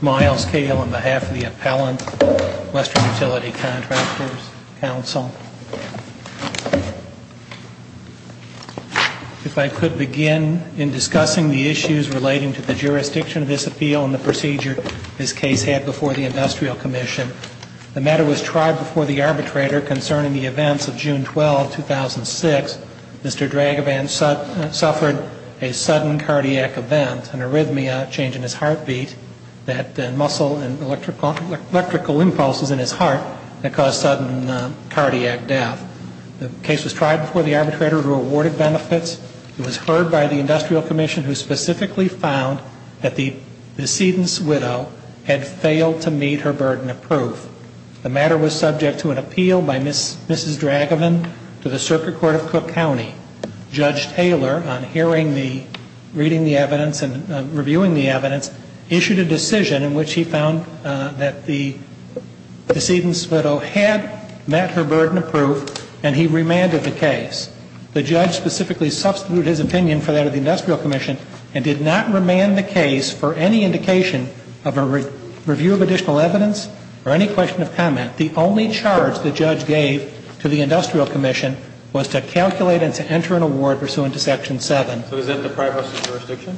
Miles Cale, on behalf of the Appellant, Western Utility Contractors Council, if I could begin in discussing the issues relating to the jurisdiction of this appeal and the procedure this case had before the Industrial Commission. The matter was tried before the arbitrator concerning the events of June 12, 2006. Mr. Dragovan suffered a sudden cardiac event, an arrhythmia change in his heartbeat, that muscle and electrical impulses in his heart that caused sudden cardiac death. The case was tried before the arbitrator who awarded benefits. It was heard by the burden of proof. The matter was subject to an appeal by Mrs. Dragovan to the Circuit Court of Cook County. Judge Taylor, on hearing the, reading the evidence and reviewing the evidence, issued a decision in which he found that the decedent's widow had met her burden of proof and he remanded the case. The judge specifically substituted his opinion for that of Mr. Dragovan. In addition to the review of additional evidence, or any question of comment, the only charge the judge gave to the Industrial Commission was to calculate and to enter an award pursuant to Section 7. So does that deprive us of jurisdiction?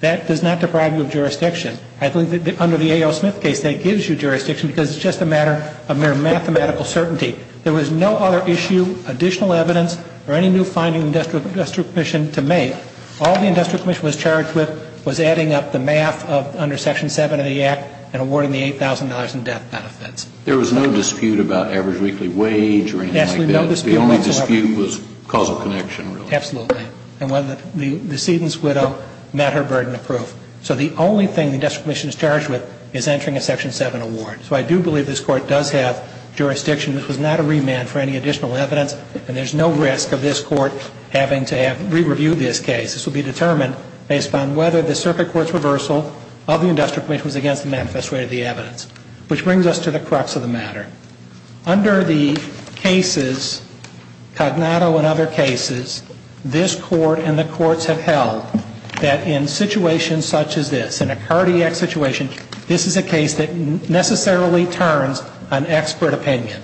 That does not deprive you of jurisdiction. I believe that under the A.O. Smith case, that gives you jurisdiction because it's just a matter of mere mathematical certainty. There was no other issue, additional evidence, or any new finding the Industrial Commission to make. All the Industrial Commission was charged with was adding up the math under Section 7 of the Act and awarding the $8,000 in death benefits. There was no dispute about average weekly wage or anything like that? Absolutely no dispute whatsoever. The only dispute was causal connection, really? Absolutely. And whether the decedent's widow met her burden of proof. So the only thing the Industrial Commission is charged with is entering a Section 7 award. So I do believe this Court does have jurisdiction. This was not a remand for any additional evidence and there's no risk of this Court having to have re-reviewed this case. This will be determined based upon whether the Circuit Court's reversal of the Industrial Commission was against the manifest way of the evidence. Which brings us to the crux of the matter. Under the cases, Cognato and other cases, this Court and the courts have held that in situations such as this, in a cardiac situation, this is a case that necessarily turns on expert opinion.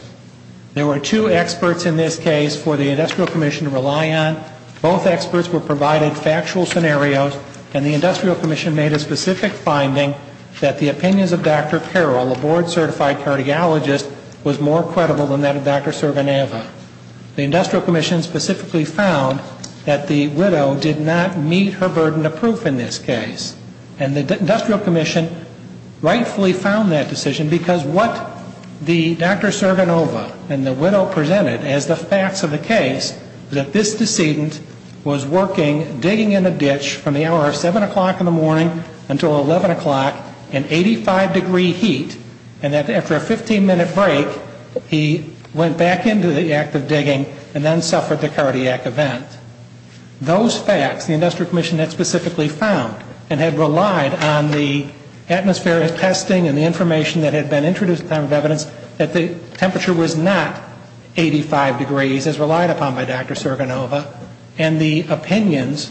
There were two experts in this case for the Industrial Commission to rely on. Both experts were provided factual scenarios and the Industrial Commission made a specific finding that the opinions of Dr. Carroll, a board certified cardiologist, was more credible than that of Dr. Cervaneva. The Industrial Commission specifically found that the widow did not meet her burden of proof in this case. And the Industrial Commission rightfully found that decision because what Dr. Cervaneva and the widow presented as the facts of the case was that this decedent was working, digging in a ditch from the hour of 7 o'clock in the morning until 11 o'clock in 85 degree heat and that after a 15 minute break he went back into the act of digging and then suffered the cardiac event. Those facts, the Industrial Commission had specifically found and had relied on the atmospheric testing and the information that had been introduced at the time of evidence that the temperature was not 85 degrees as relied upon by Dr. Cervaneva and the opinions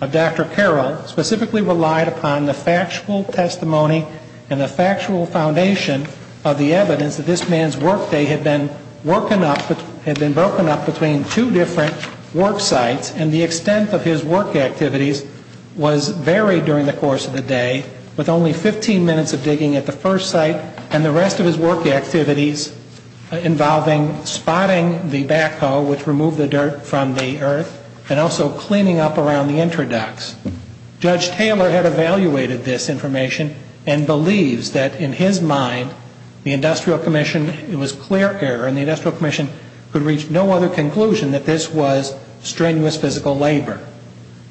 of Dr. Carroll specifically relied upon the factual testimony and the factual foundation of the evidence that this man's workday had been broken up between two different work sites and the extent of his work activities was varied during the course of the day with only 15 minutes of digging at the first site and the rest of his work activities involving spotting the backhoe which removed the dirt from the earth and also cleaning up around the interducts. Judge Taylor had evaluated this information and believes that in his mind the Industrial Commission, it was clear error and the Industrial Commission could reach no other conclusion that this was strenuous physical labor.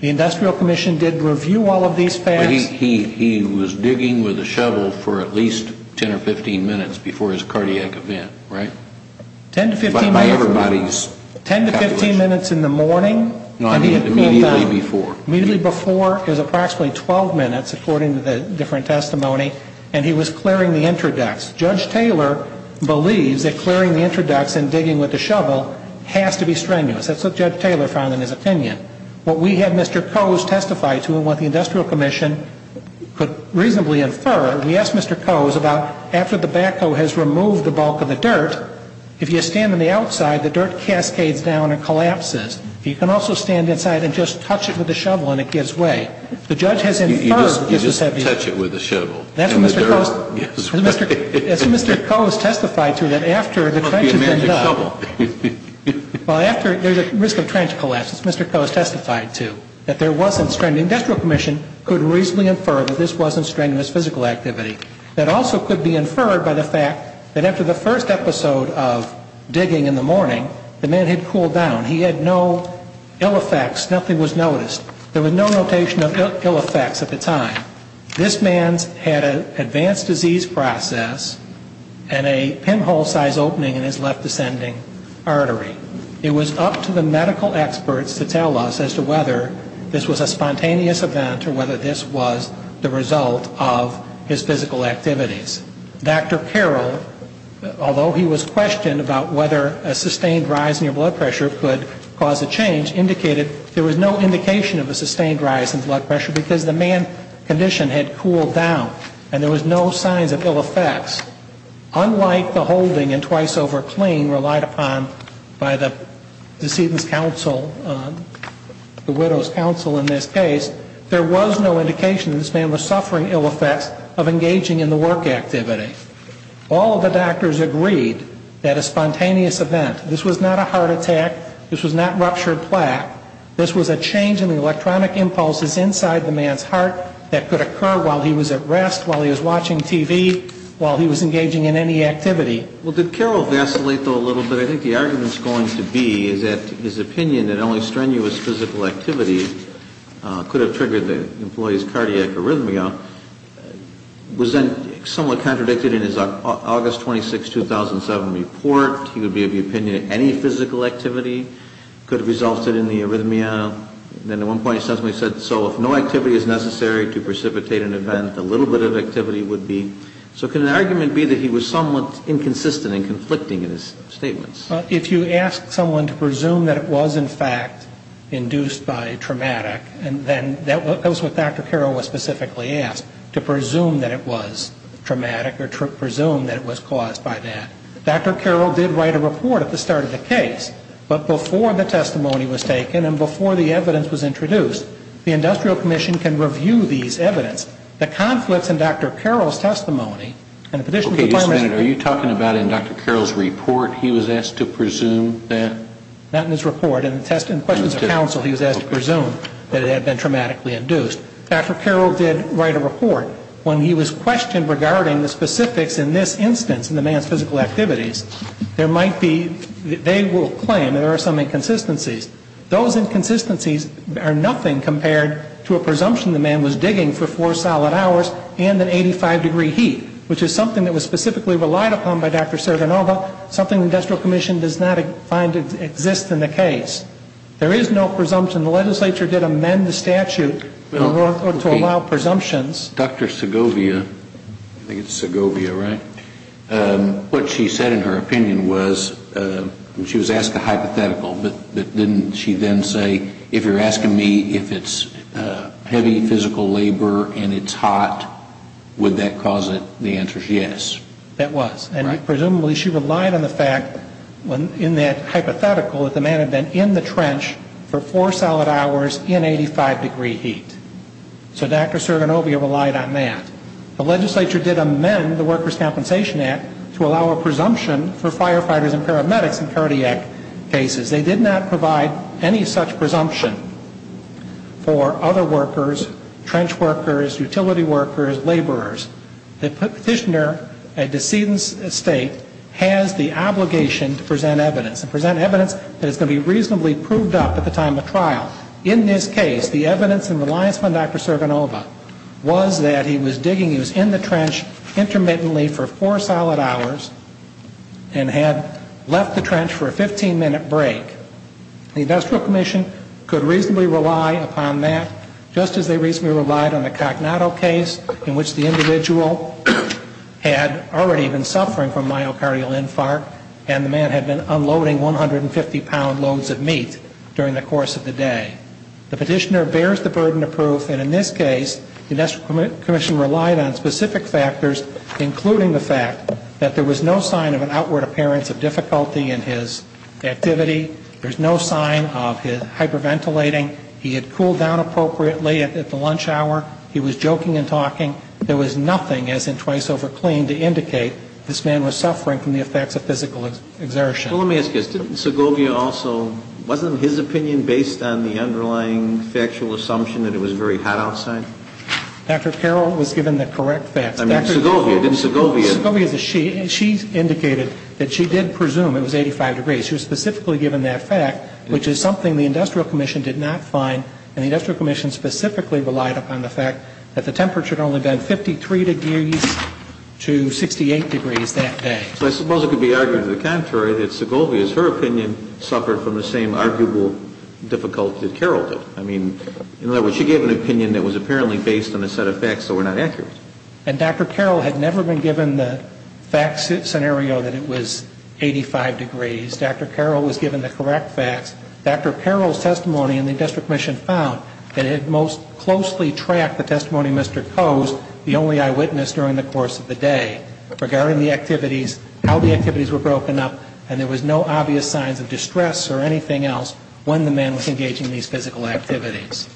The Industrial Commission did review all of these facts. He was digging with a shovel for at least 10 or 15 minutes before his cardiac event, right? 10 to 15 minutes. By everybody's calculation. 10 to 15 minutes in the morning and he had cooled down. Immediately before. Immediately before, it was approximately 12 minutes according to the different testimony and he was clearing the interducts. Judge Taylor believes that clearing the interducts and digging with the shovel has to be strenuous. That's what Judge Taylor found in his opinion. What we had Mr. Coase testify to and what the Industrial Commission could reasonably infer, we asked Mr. Coase about after the backhoe has removed the bulk of the dirt, if you stand on the outside, the dirt cascades down and collapses. You can also stand inside and just touch it with a shovel and it gives way. The judge has inferred. You just touch it with a shovel. That's what Mr. Coase testified to, that after the trench has been dug. It must be a magic shovel. Well, after there's a risk of trench collapse, as Mr. Coase testified to, that there wasn't strenuous. The Industrial Commission could reasonably infer that this wasn't strenuous physical activity. That also could be inferred by the fact that after the first episode of digging in the morning, the man had cooled down. He had no ill effects. Nothing was noticed. There was no notation of ill effects at the time. This man had an advanced disease process and a pinhole size opening in his left descending artery. It was up to the medical experts to tell us as to whether this was a spontaneous event or whether this was the result of his physical activities. Dr. Carroll, although he was questioned about whether a sustained rise in your blood pressure could cause a change, indicated there was no indication of a sustained rise in blood pressure because the man's condition had cooled down and there was no signs of ill effects. Unlike the holding and twice over clean relied upon by the decedent's counsel, the widow's counsel in this case, there was no indication that this man was suffering ill effects of engaging in the work activity. All the doctors agreed that a spontaneous event, this was not a heart attack, this was not ruptured plaque, this was a change in the electronic impulses inside the man's heart that could occur while he was at rest, while he was engaging in any activity. Well, did Carroll vacillate, though, a little bit? I think the argument is going to be that his opinion that only strenuous physical activity could have triggered the employee's cardiac arrhythmia was then somewhat contradicted in his August 26, 2007 report. He would be of the opinion that any physical activity could have resulted in the arrhythmia. Then at one point he said, so if no activity is necessary to precipitate an event, a little bit of activity would be. So can the argument be that he was somewhat inconsistent and conflicting in his statements? If you ask someone to presume that it was, in fact, induced by traumatic, then that was what Dr. Carroll was specifically asked, to presume that it was traumatic or presume that it was caused by that. Dr. Carroll did write a report at the start of the case. But before the testimony was taken and before the evidence was introduced, the Industrial Commission can review these evidence. The conflicts in Dr. Carroll's testimony and the Petition Department Okay, just a minute. Are you talking about in Dr. Carroll's report he was asked to presume that? Not in his report. In the questions of counsel he was asked to presume that it had been traumatically induced. Dr. Carroll did write a report. When he was questioned regarding the specifics in this instance in the man's physical activities, there might be, they will claim there are some inconsistencies. Those inconsistencies are nothing compared to a presumption the man was subject to, which is something that was specifically relied upon by Dr. Serdanova, something the Industrial Commission does not find exists in the case. There is no presumption. The legislature did amend the statute to allow presumptions. Dr. Segovia, I think it's Segovia, right? What she said in her opinion was, she was asked a hypothetical. But didn't she then say, if you're asking me if it's heavy physical labor and it's traumatic, then it's traumatic. If it's hot, would that cause it? The answer is yes. That was. And presumably she relied on the fact in that hypothetical that the man had been in the trench for four solid hours in 85 degree heat. So Dr. Serdanova relied on that. The legislature did amend the Workers' Compensation Act to allow a presumption for firefighters and paramedics in cardiac cases. They did not provide any such presumption for other workers, trench workers, utility workers, laborers. The petitioner, a decedent state, has the obligation to present evidence and present evidence that is going to be reasonably proved up at the time of trial. In this case, the evidence in Reliance on Dr. Serdanova was that he was digging, he was in the trench intermittently for four solid hours and had left the trench for a 15-minute break. The Industrial Commission could reasonably rely upon that, just as they could reasonably rely on a cognato case in which the individual had already been suffering from myocardial infarct and the man had been unloading 150-pound loads of meat during the course of the day. The petitioner bears the burden of proof, and in this case, the Industrial Commission relied on specific factors, including the fact that there was no sign of an outward appearance of difficulty in his activity. There's no sign of his hyperventilating. He had cooled down appropriately at the lunch hour. He was joking and talking. There was nothing, as in twice over clean, to indicate this man was suffering from the effects of physical exertion. Well, let me ask you this. Didn't Segovia also, wasn't his opinion based on the underlying factual assumption that it was very hot outside? Dr. Carroll was given the correct facts. I mean, Segovia. Didn't Segovia? Segovia is a she. She indicated that she did presume it was 85 degrees. She was specifically given that fact, which is something the Industrial Commission did not find, and the Industrial Commission specifically relied upon the fact that the temperature had only been 53 degrees to 68 degrees that day. So I suppose it could be argued to the contrary, that Segovia's, her opinion, suffered from the same arguable difficulty that Carroll did. I mean, in other words, she gave an opinion that was apparently based on a set of facts that were not accurate. And Dr. Carroll had never been given the fact scenario that it was 85 degrees. Dr. Carroll was given the correct facts. Dr. Carroll's testimony in the Industrial Commission found that it had most closely tracked the testimony Mr. Coase, the only eyewitness during the course of the day, regarding the activities, how the activities were broken up, and there was no obvious signs of distress or anything else when the man was engaging in these physical activities.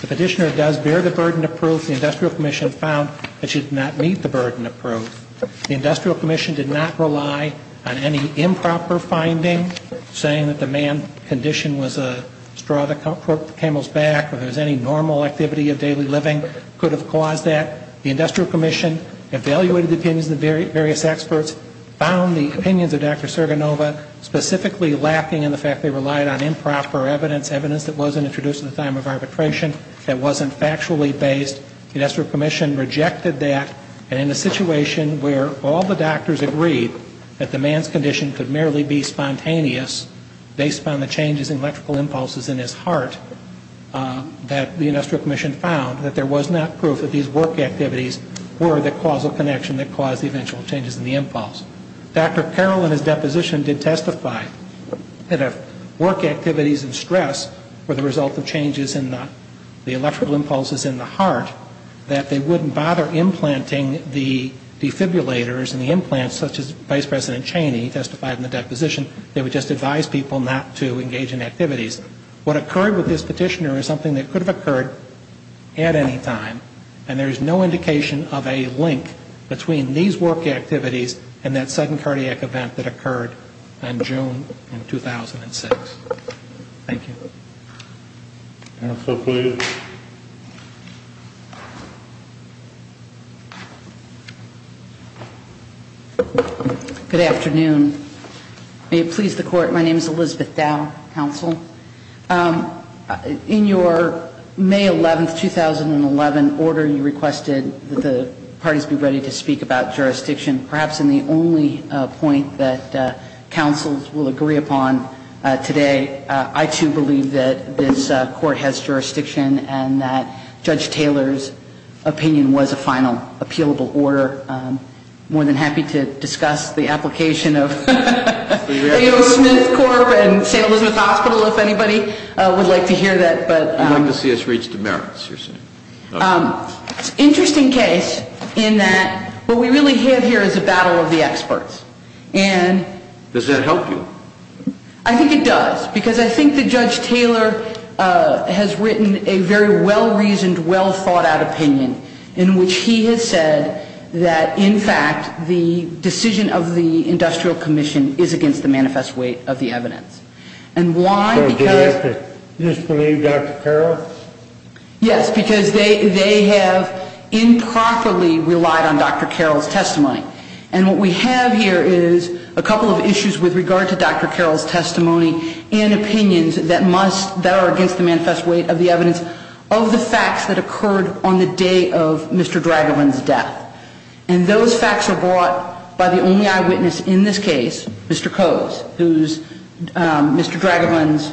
The petitioner does bear the burden of proof. The Industrial Commission found that she did not meet the burden of proof. The Industrial Commission did not rely on any improper finding, saying that the man's condition was a straw that broke the camel's back or there was any normal activity of daily living could have caused that. The Industrial Commission evaluated the opinions of the various experts, found the opinions of Dr. Serganova specifically lacking in the fact they relied on improper evidence, evidence that wasn't introduced in the time of arbitration, that wasn't factually based. The Industrial Commission rejected that. And in a situation where all the doctors agreed that the man's condition could merely be spontaneous based on the changes in electrical impulses in his heart, that the Industrial Commission found that there was not proof that these work activities were the causal connection that caused the eventual changes in the impulse. Dr. Carroll in his deposition did testify that if work activities and stress were the result of changes in the electrical impulses in the heart, that they wouldn't bother implanting the defibrillators and the implants such as Vice President Cheney testified in the deposition, they would just advise people not to engage in activities. What occurred with this petitioner is something that could have occurred at any time. And there is no indication of a link between these work activities and that sudden cardiac event that occurred in June of 2006. Thank you. Counsel, please. Good afternoon. May it please the Court, my name is Elizabeth Dow, Counsel. In your May 11, 2011 order, you requested that the parties be ready to speak about jurisdiction. Perhaps in the only point that counsels will agree upon today, I too believe that this Court has jurisdiction and that Judge Taylor's opinion was a final appealable order. I'm more than happy to discuss the application of A.O. Smith Corp. and St. Elizabeth Hospital if anybody would like to hear that. I'd like to see us reach the merits, you're saying. It's an interesting case in that what we really have here is a battle of the experts. Does that help you? I think it does, because I think that Judge Taylor has written a very well-reasoned, well-thought-out opinion in which he has said that, in fact, the decision of the Industrial Commission is against the manifest weight of the evidence. And why? So do you have to disbelieve Dr. Carroll? Yes, because they have improperly relied on Dr. Carroll's testimony. And what we have here is a couple of issues with regard to Dr. Carroll's testimony and opinions that are against the manifest weight of the evidence of the facts that occurred on the day of Mr. Dragobin's death. And those facts were brought by the only eyewitness in this case, Mr. Coase, who's Mr. Dragobin's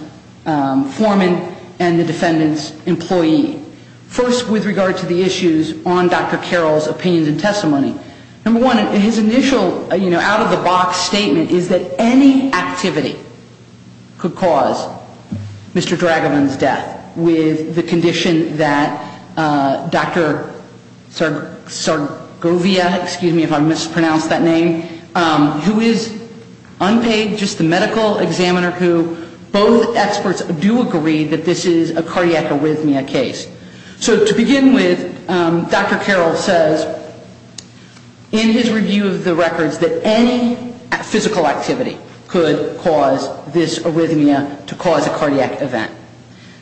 foreman and the defendant's employee. First, with regard to the issues on Dr. Carroll's opinions and testimony, number one, his initial, you know, out-of-the-box statement is that any activity could cause Mr. Dragobin's death with the condition that Dr. Sargovia, excuse me if I mispronounced that name, who is unpaid, just the medical examiner who both experts do agree that this is a cardiac arrhythmia case. So to begin with, Dr. Carroll says in his review of the records that any physical activity could cause this arrhythmia to cause a cardiac event.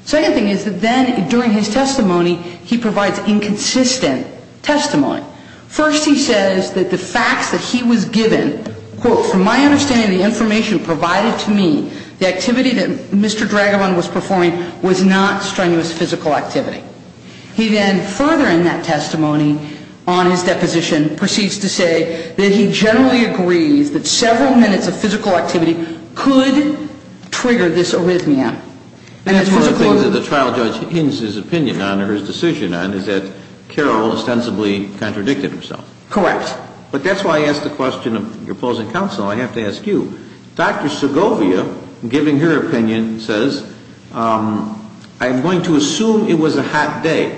Second thing is that then during his testimony, he provides inconsistent testimony. First, he says that the facts that he was given, quote, from my understanding and the information provided to me, the activity that Mr. Dragobin was performing was not strenuous physical activity. He then, further in that testimony on his deposition, proceeds to say that he generally agrees that several minutes of physical activity could trigger this arrhythmia. And that's physically ñ And that's one of the things that the trial judge hints his opinion on or his decision on is that Carroll ostensibly contradicted himself. Correct. But that's why I asked the question of your opposing counsel. I have to ask you. Dr. Segovia, given her opinion, says I'm going to assume it was a hot day,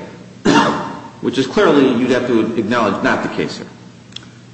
which is clearly you'd have to acknowledge not the case here.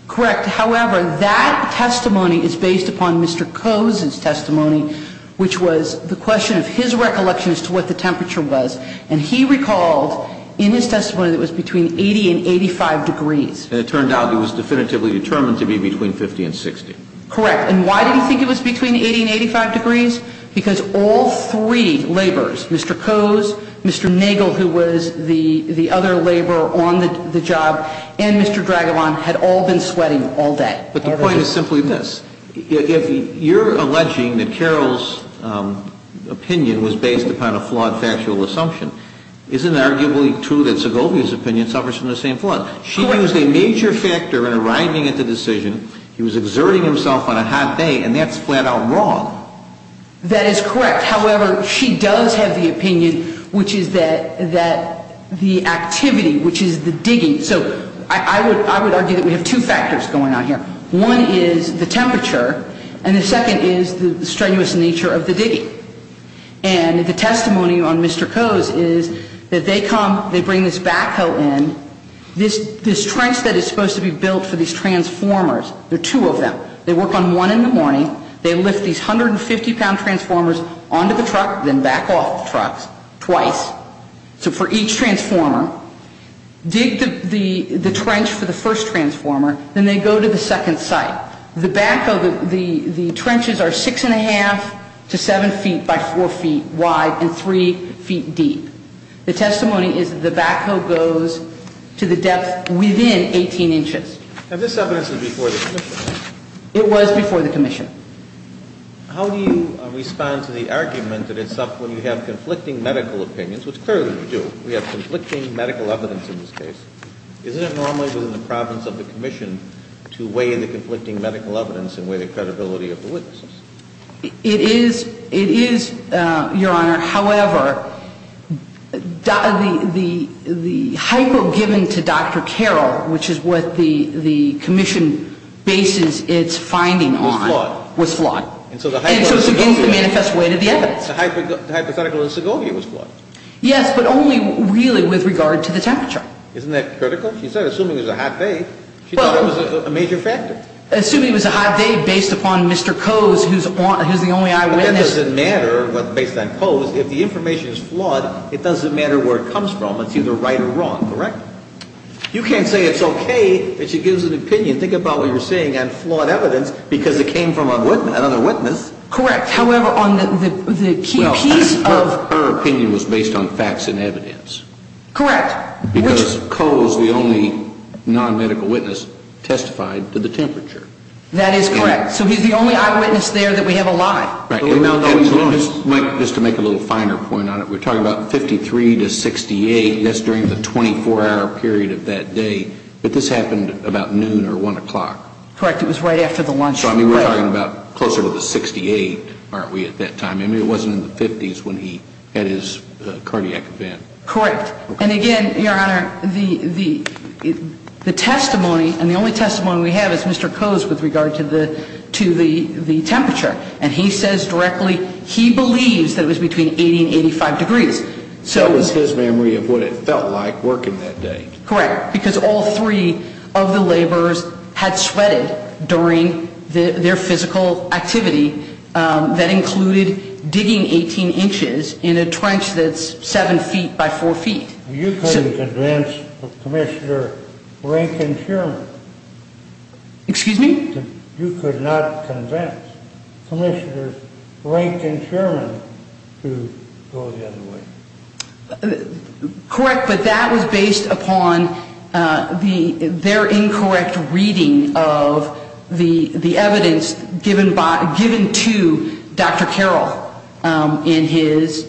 Correct. However, that testimony is based upon Mr. Coase's testimony, which was the question of his recollection as to what the temperature was. And he recalled in his testimony that it was between 80 and 85 degrees. And it turned out it was definitively determined to be between 50 and 60. Correct. And why did he think it was between 80 and 85 degrees? Because all three laborers, Mr. Coase, Mr. Nagel, who was the other laborer on the job, and Mr. Dragobin had all been sweating all day. But the point is simply this. If you're alleging that Carroll's opinion was based upon a flawed factual assumption, isn't it arguably true that Segovia's opinion suffers from the same flaw? She used a major factor in arriving at the decision. He was exerting himself on a hot day, and that's flat-out wrong. That is correct. However, she does have the opinion, which is that the activity, which is the digging so I would argue that we have two factors going on here. One is the temperature, and the second is the strenuous nature of the digging. And the testimony on Mr. Coase is that they come, they bring this backhoe in. This trench that is supposed to be built for these transformers, there are two of them. They work on one in the morning. They lift these 150-pound transformers onto the truck, then back off the truck twice. So for each transformer, dig the trench for the first transformer, then they go to the second site. The backhoe, the trenches are 6 1⁄2 to 7 feet by 4 feet wide and 3 feet deep. The testimony is that the backhoe goes to the depth within 18 inches. And this evidence is before the commission? It was before the commission. How do you respond to the argument that it's up when you have conflicting medical opinions, which clearly you do. We have conflicting medical evidence in this case. Isn't it normally within the province of the commission to weigh the conflicting medical evidence and weigh the credibility of the witnesses? It is, Your Honor. However, the hypo given to Dr. Carroll, which is what the commission bases its finding on. Was flawed. Was flawed. And so it's against the manifest way to the evidence. The hypothetical in Segovia was flawed. Yes, but only really with regard to the temperature. Isn't that critical? She said assuming it was a hot day, she thought it was a major factor. Assuming it was a hot day based upon Mr. Coase, who's the only eyewitness. But that doesn't matter based on Coase. If the information is flawed, it doesn't matter where it comes from. It's either right or wrong, correct? You can't say it's okay that she gives an opinion. Think about what you're saying on flawed evidence because it came from another witness. Correct. However, on the key piece of... Her opinion was based on facts and evidence. Correct. Because Coase, the only non-medical witness, testified to the temperature. That is correct. So he's the only eyewitness there that we have alive. Just to make a little finer point on it, we're talking about 53 to 68. That's during the 24-hour period of that day. But this happened about noon or 1 o'clock. Correct. It was right after the lunch break. So we're talking about closer to the 68, aren't we, at that time? I mean, it wasn't in the 50s when he had his cardiac event. Correct. And again, Your Honor, the testimony and the only testimony we have is Mr. Coase with regard to the temperature. And he says directly he believes that it was between 80 and 85 degrees. So it was his memory of what it felt like working that day. Correct. Because all three of the laborers had sweated during their physical activity. That included digging 18 inches in a trench that's 7 feet by 4 feet. You couldn't convince Commissioner Rankin-Sherman. Excuse me? You could not convince Commissioner Rankin-Sherman to go the other way. Correct. But that was based upon their incorrect reading of the evidence given to Dr. Carroll in his,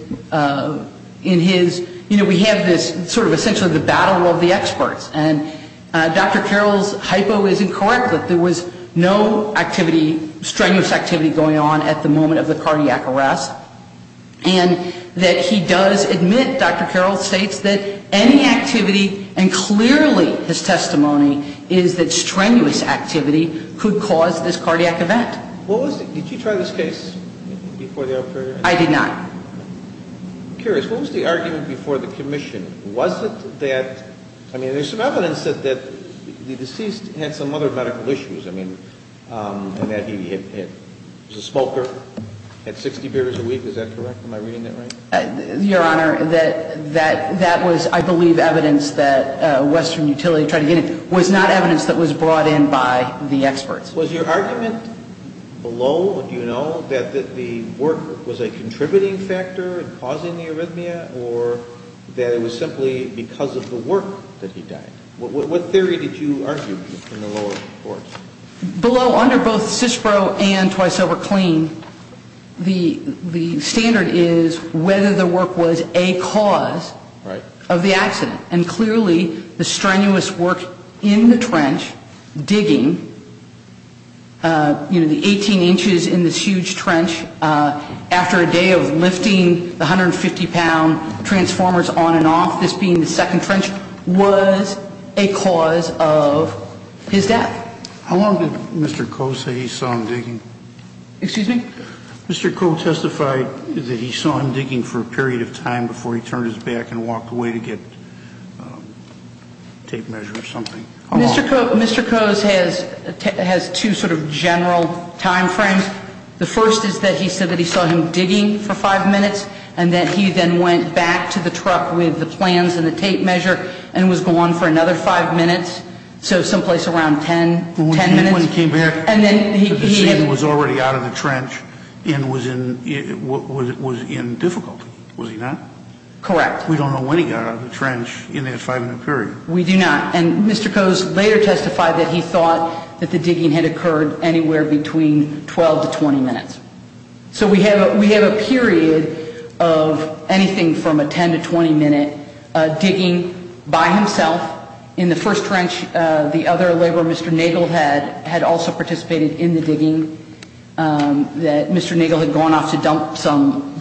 you know, we have this sort of essentially the battle of the experts. And Dr. Carroll's hypo is incorrect, that there was no activity, strenuous activity going on at the moment of the cardiac arrest. And that he does admit, Dr. Carroll states, that any activity, and clearly his testimony is that strenuous activity could cause this cardiac event. Did you try this case before the operator? I did not. I'm curious, what was the argument before the commission? Was it that, I mean, there's some evidence that the deceased had some other medical issues. I mean, and that he was a smoker, had 60 beers a week. Is that correct? Am I reading that right? Your Honor, that was, I believe, evidence that Western Utility tried to get in. It was not evidence that was brought in by the experts. Was your argument below, do you know, that the work was a contributing factor in causing the arrhythmia? Or that it was simply because of the work that he died? What theory did you argue in the lower courts? Below, under both CISPRO and Twice Over Clean, the standard is whether the work was a cause of the accident. And clearly, the strenuous work in the trench, digging, you know, the 18 inches in this huge trench, after a day of lifting the 150-pound transformers on and off, this being the second trench, was a cause of his death. How long did Mr. Coase say he saw him digging? Excuse me? Mr. Coase testified that he saw him digging for a period of time before he turned his back and walked away to get tape measure or something. Mr. Coase has two sort of general time frames. The first is that he said that he saw him digging for five minutes, and that he then went back to the truck with the plans and the tape measure and was gone for another five minutes, so someplace around ten, ten minutes. When he came back, the scene was already out of the trench and was in difficulty. Was he not? Correct. We don't know when he got out of the trench in that five-minute period. We do not. And Mr. Coase later testified that he thought that the digging had occurred anywhere between 12 to 20 minutes. So we have a period of anything from a 10 to 20-minute digging by himself in the first trench. The other laborer, Mr. Nagel, had also participated in the digging. Mr. Nagel had gone off to dump some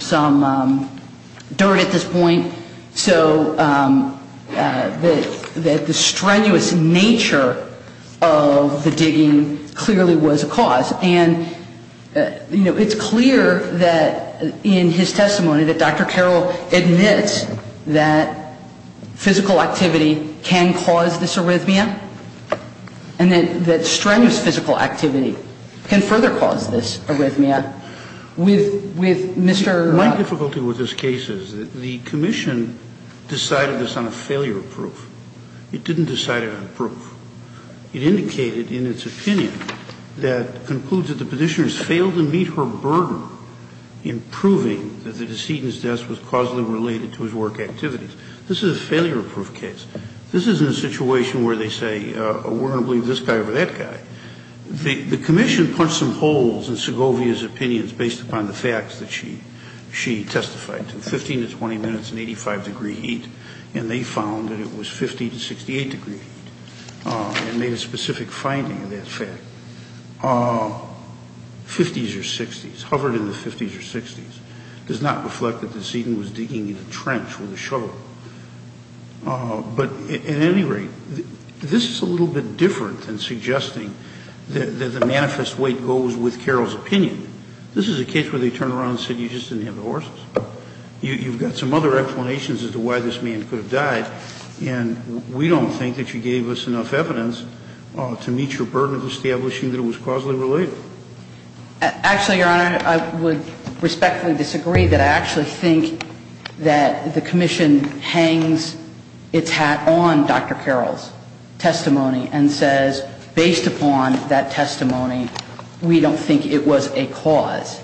dirt at this point. So the strenuous nature of the digging clearly was a cause. And, you know, it's clear that in his testimony that Dr. Carroll admits that physical activity can cause this arrhythmia and that strenuous physical activity can further cause this arrhythmia. With Mr. ---- My difficulty with this case is that the commission decided this on a failure proof. It didn't decide it on proof. It indicated in its opinion that it concludes that the Petitioner has failed to meet her burden in proving that the decedent's death was causally related to his work activities. This is a failure proof case. This isn't a situation where they say, we're going to believe this guy over that guy. The commission punched some holes in Segovia's opinions based upon the facts that she testified to. 15 to 20 minutes in 85-degree heat, and they found that it was 50 to 68-degree heat. And made a specific finding of that fact. 50s or 60s, hovered in the 50s or 60s, does not reflect that the decedent was digging in a trench with a shovel. But at any rate, this is a little bit different than suggesting that the manifest weight goes with Carroll's opinion. This is a case where they turn around and say you just didn't have the horses. You've got some other explanations as to why this man could have died. And we don't think that you gave us enough evidence to meet your burden of establishing that it was causally related. Actually, Your Honor, I would respectfully disagree that I actually think that the commission hangs its hat on Dr. Carroll's testimony and says, based upon that testimony, we don't think it was a cause.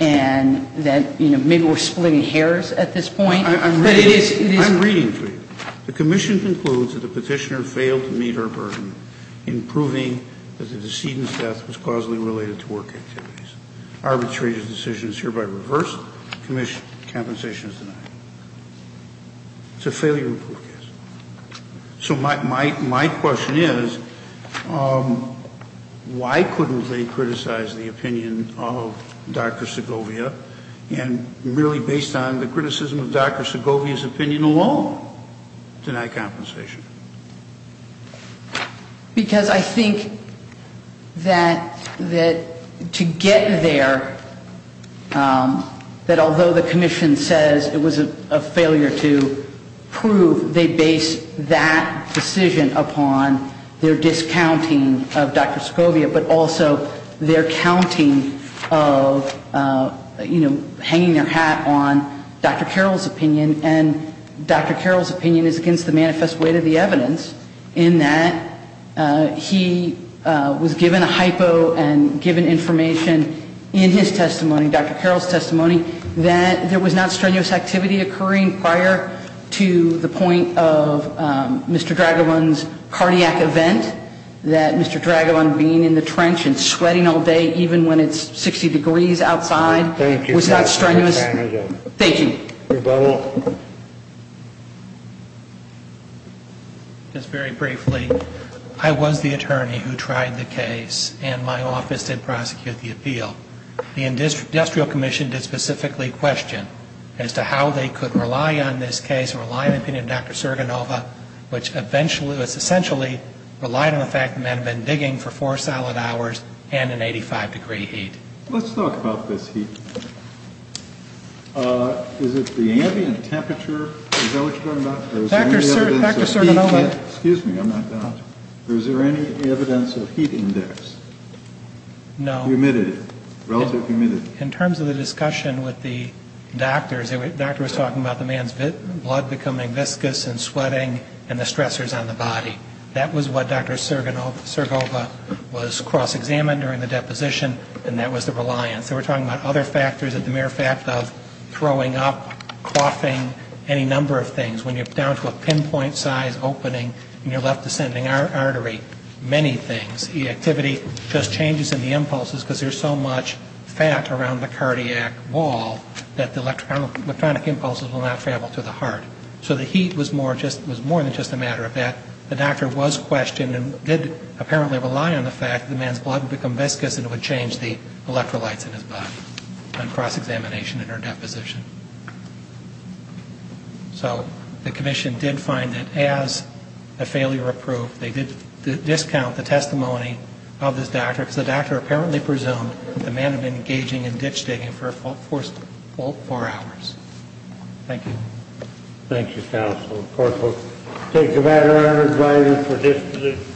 And that, you know, maybe we're splitting hairs at this point. But it is. I'm reading for you. The commission concludes that the petitioner failed to meet her burden in proving that the decedent's death was causally related to work activities. Arbitrary decision is hereby reversed. Compensation is denied. It's a failure to prove case. So my question is, why couldn't they criticize the opinion of Dr. Segovia and really based on the criticism of Dr. Segovia's opinion alone deny compensation? Because I think that to get there, that although the commission says it was a failure to prove, they based that decision upon their discounting of Dr. Segovia, but also their counting of, you know, hanging their hat on Dr. Carroll's opinion. And Dr. Carroll's opinion is against the manifest weight of the evidence in that he was given a hypo and given information in his testimony, Dr. Carroll's testimony, that there was not strenuous activity occurring prior to the point of Mr. Dragolin's cardiac event, that Mr. Dragolin being in the trench and sweating all day, even when it's 60 degrees outside, was not strenuous. Thank you. Mr. Bonnell. Just very briefly, I was the attorney who tried the case, and my office did prosecute the appeal. The industrial commission did specifically question as to how they could rely on this case, rely on the opinion of Dr. Serganova, which essentially relied on the fact that men had been digging for four solid hours and an 85-degree heat. Let's talk about this heat. Is it the ambient temperature? Is that what you're talking about? Dr. Serganova. Excuse me. I'm not done. Is there any evidence of heat index? No. Relative humidity. In terms of the discussion with the doctors, the doctor was talking about the man's blood becoming viscous and sweating and the stressors on the body. That was what Dr. Serganova was cross-examined during the deposition, and that was the reliance. They were talking about other factors, the mere fact of throwing up, coughing, any number of things. When you're down to a pinpoint size opening and you're left descending artery, many things, the activity just changes in the impulses because there's so much fat around the cardiac wall that the electronic impulses will not travel to the heart. So the heat was more than just a matter of that. The doctor was questioned and did apparently rely on the fact that the man's blood would become viscous and it would change the electrolytes in his body on cross-examination in her deposition. So the commission did find that as a failure approved, they did discount the testimony of this doctor because the doctor apparently presumed that the man had been engaging in ditch digging for four hours. Thank you. Thank you, counsel. Of course, we'll take the matter under writing for disposition.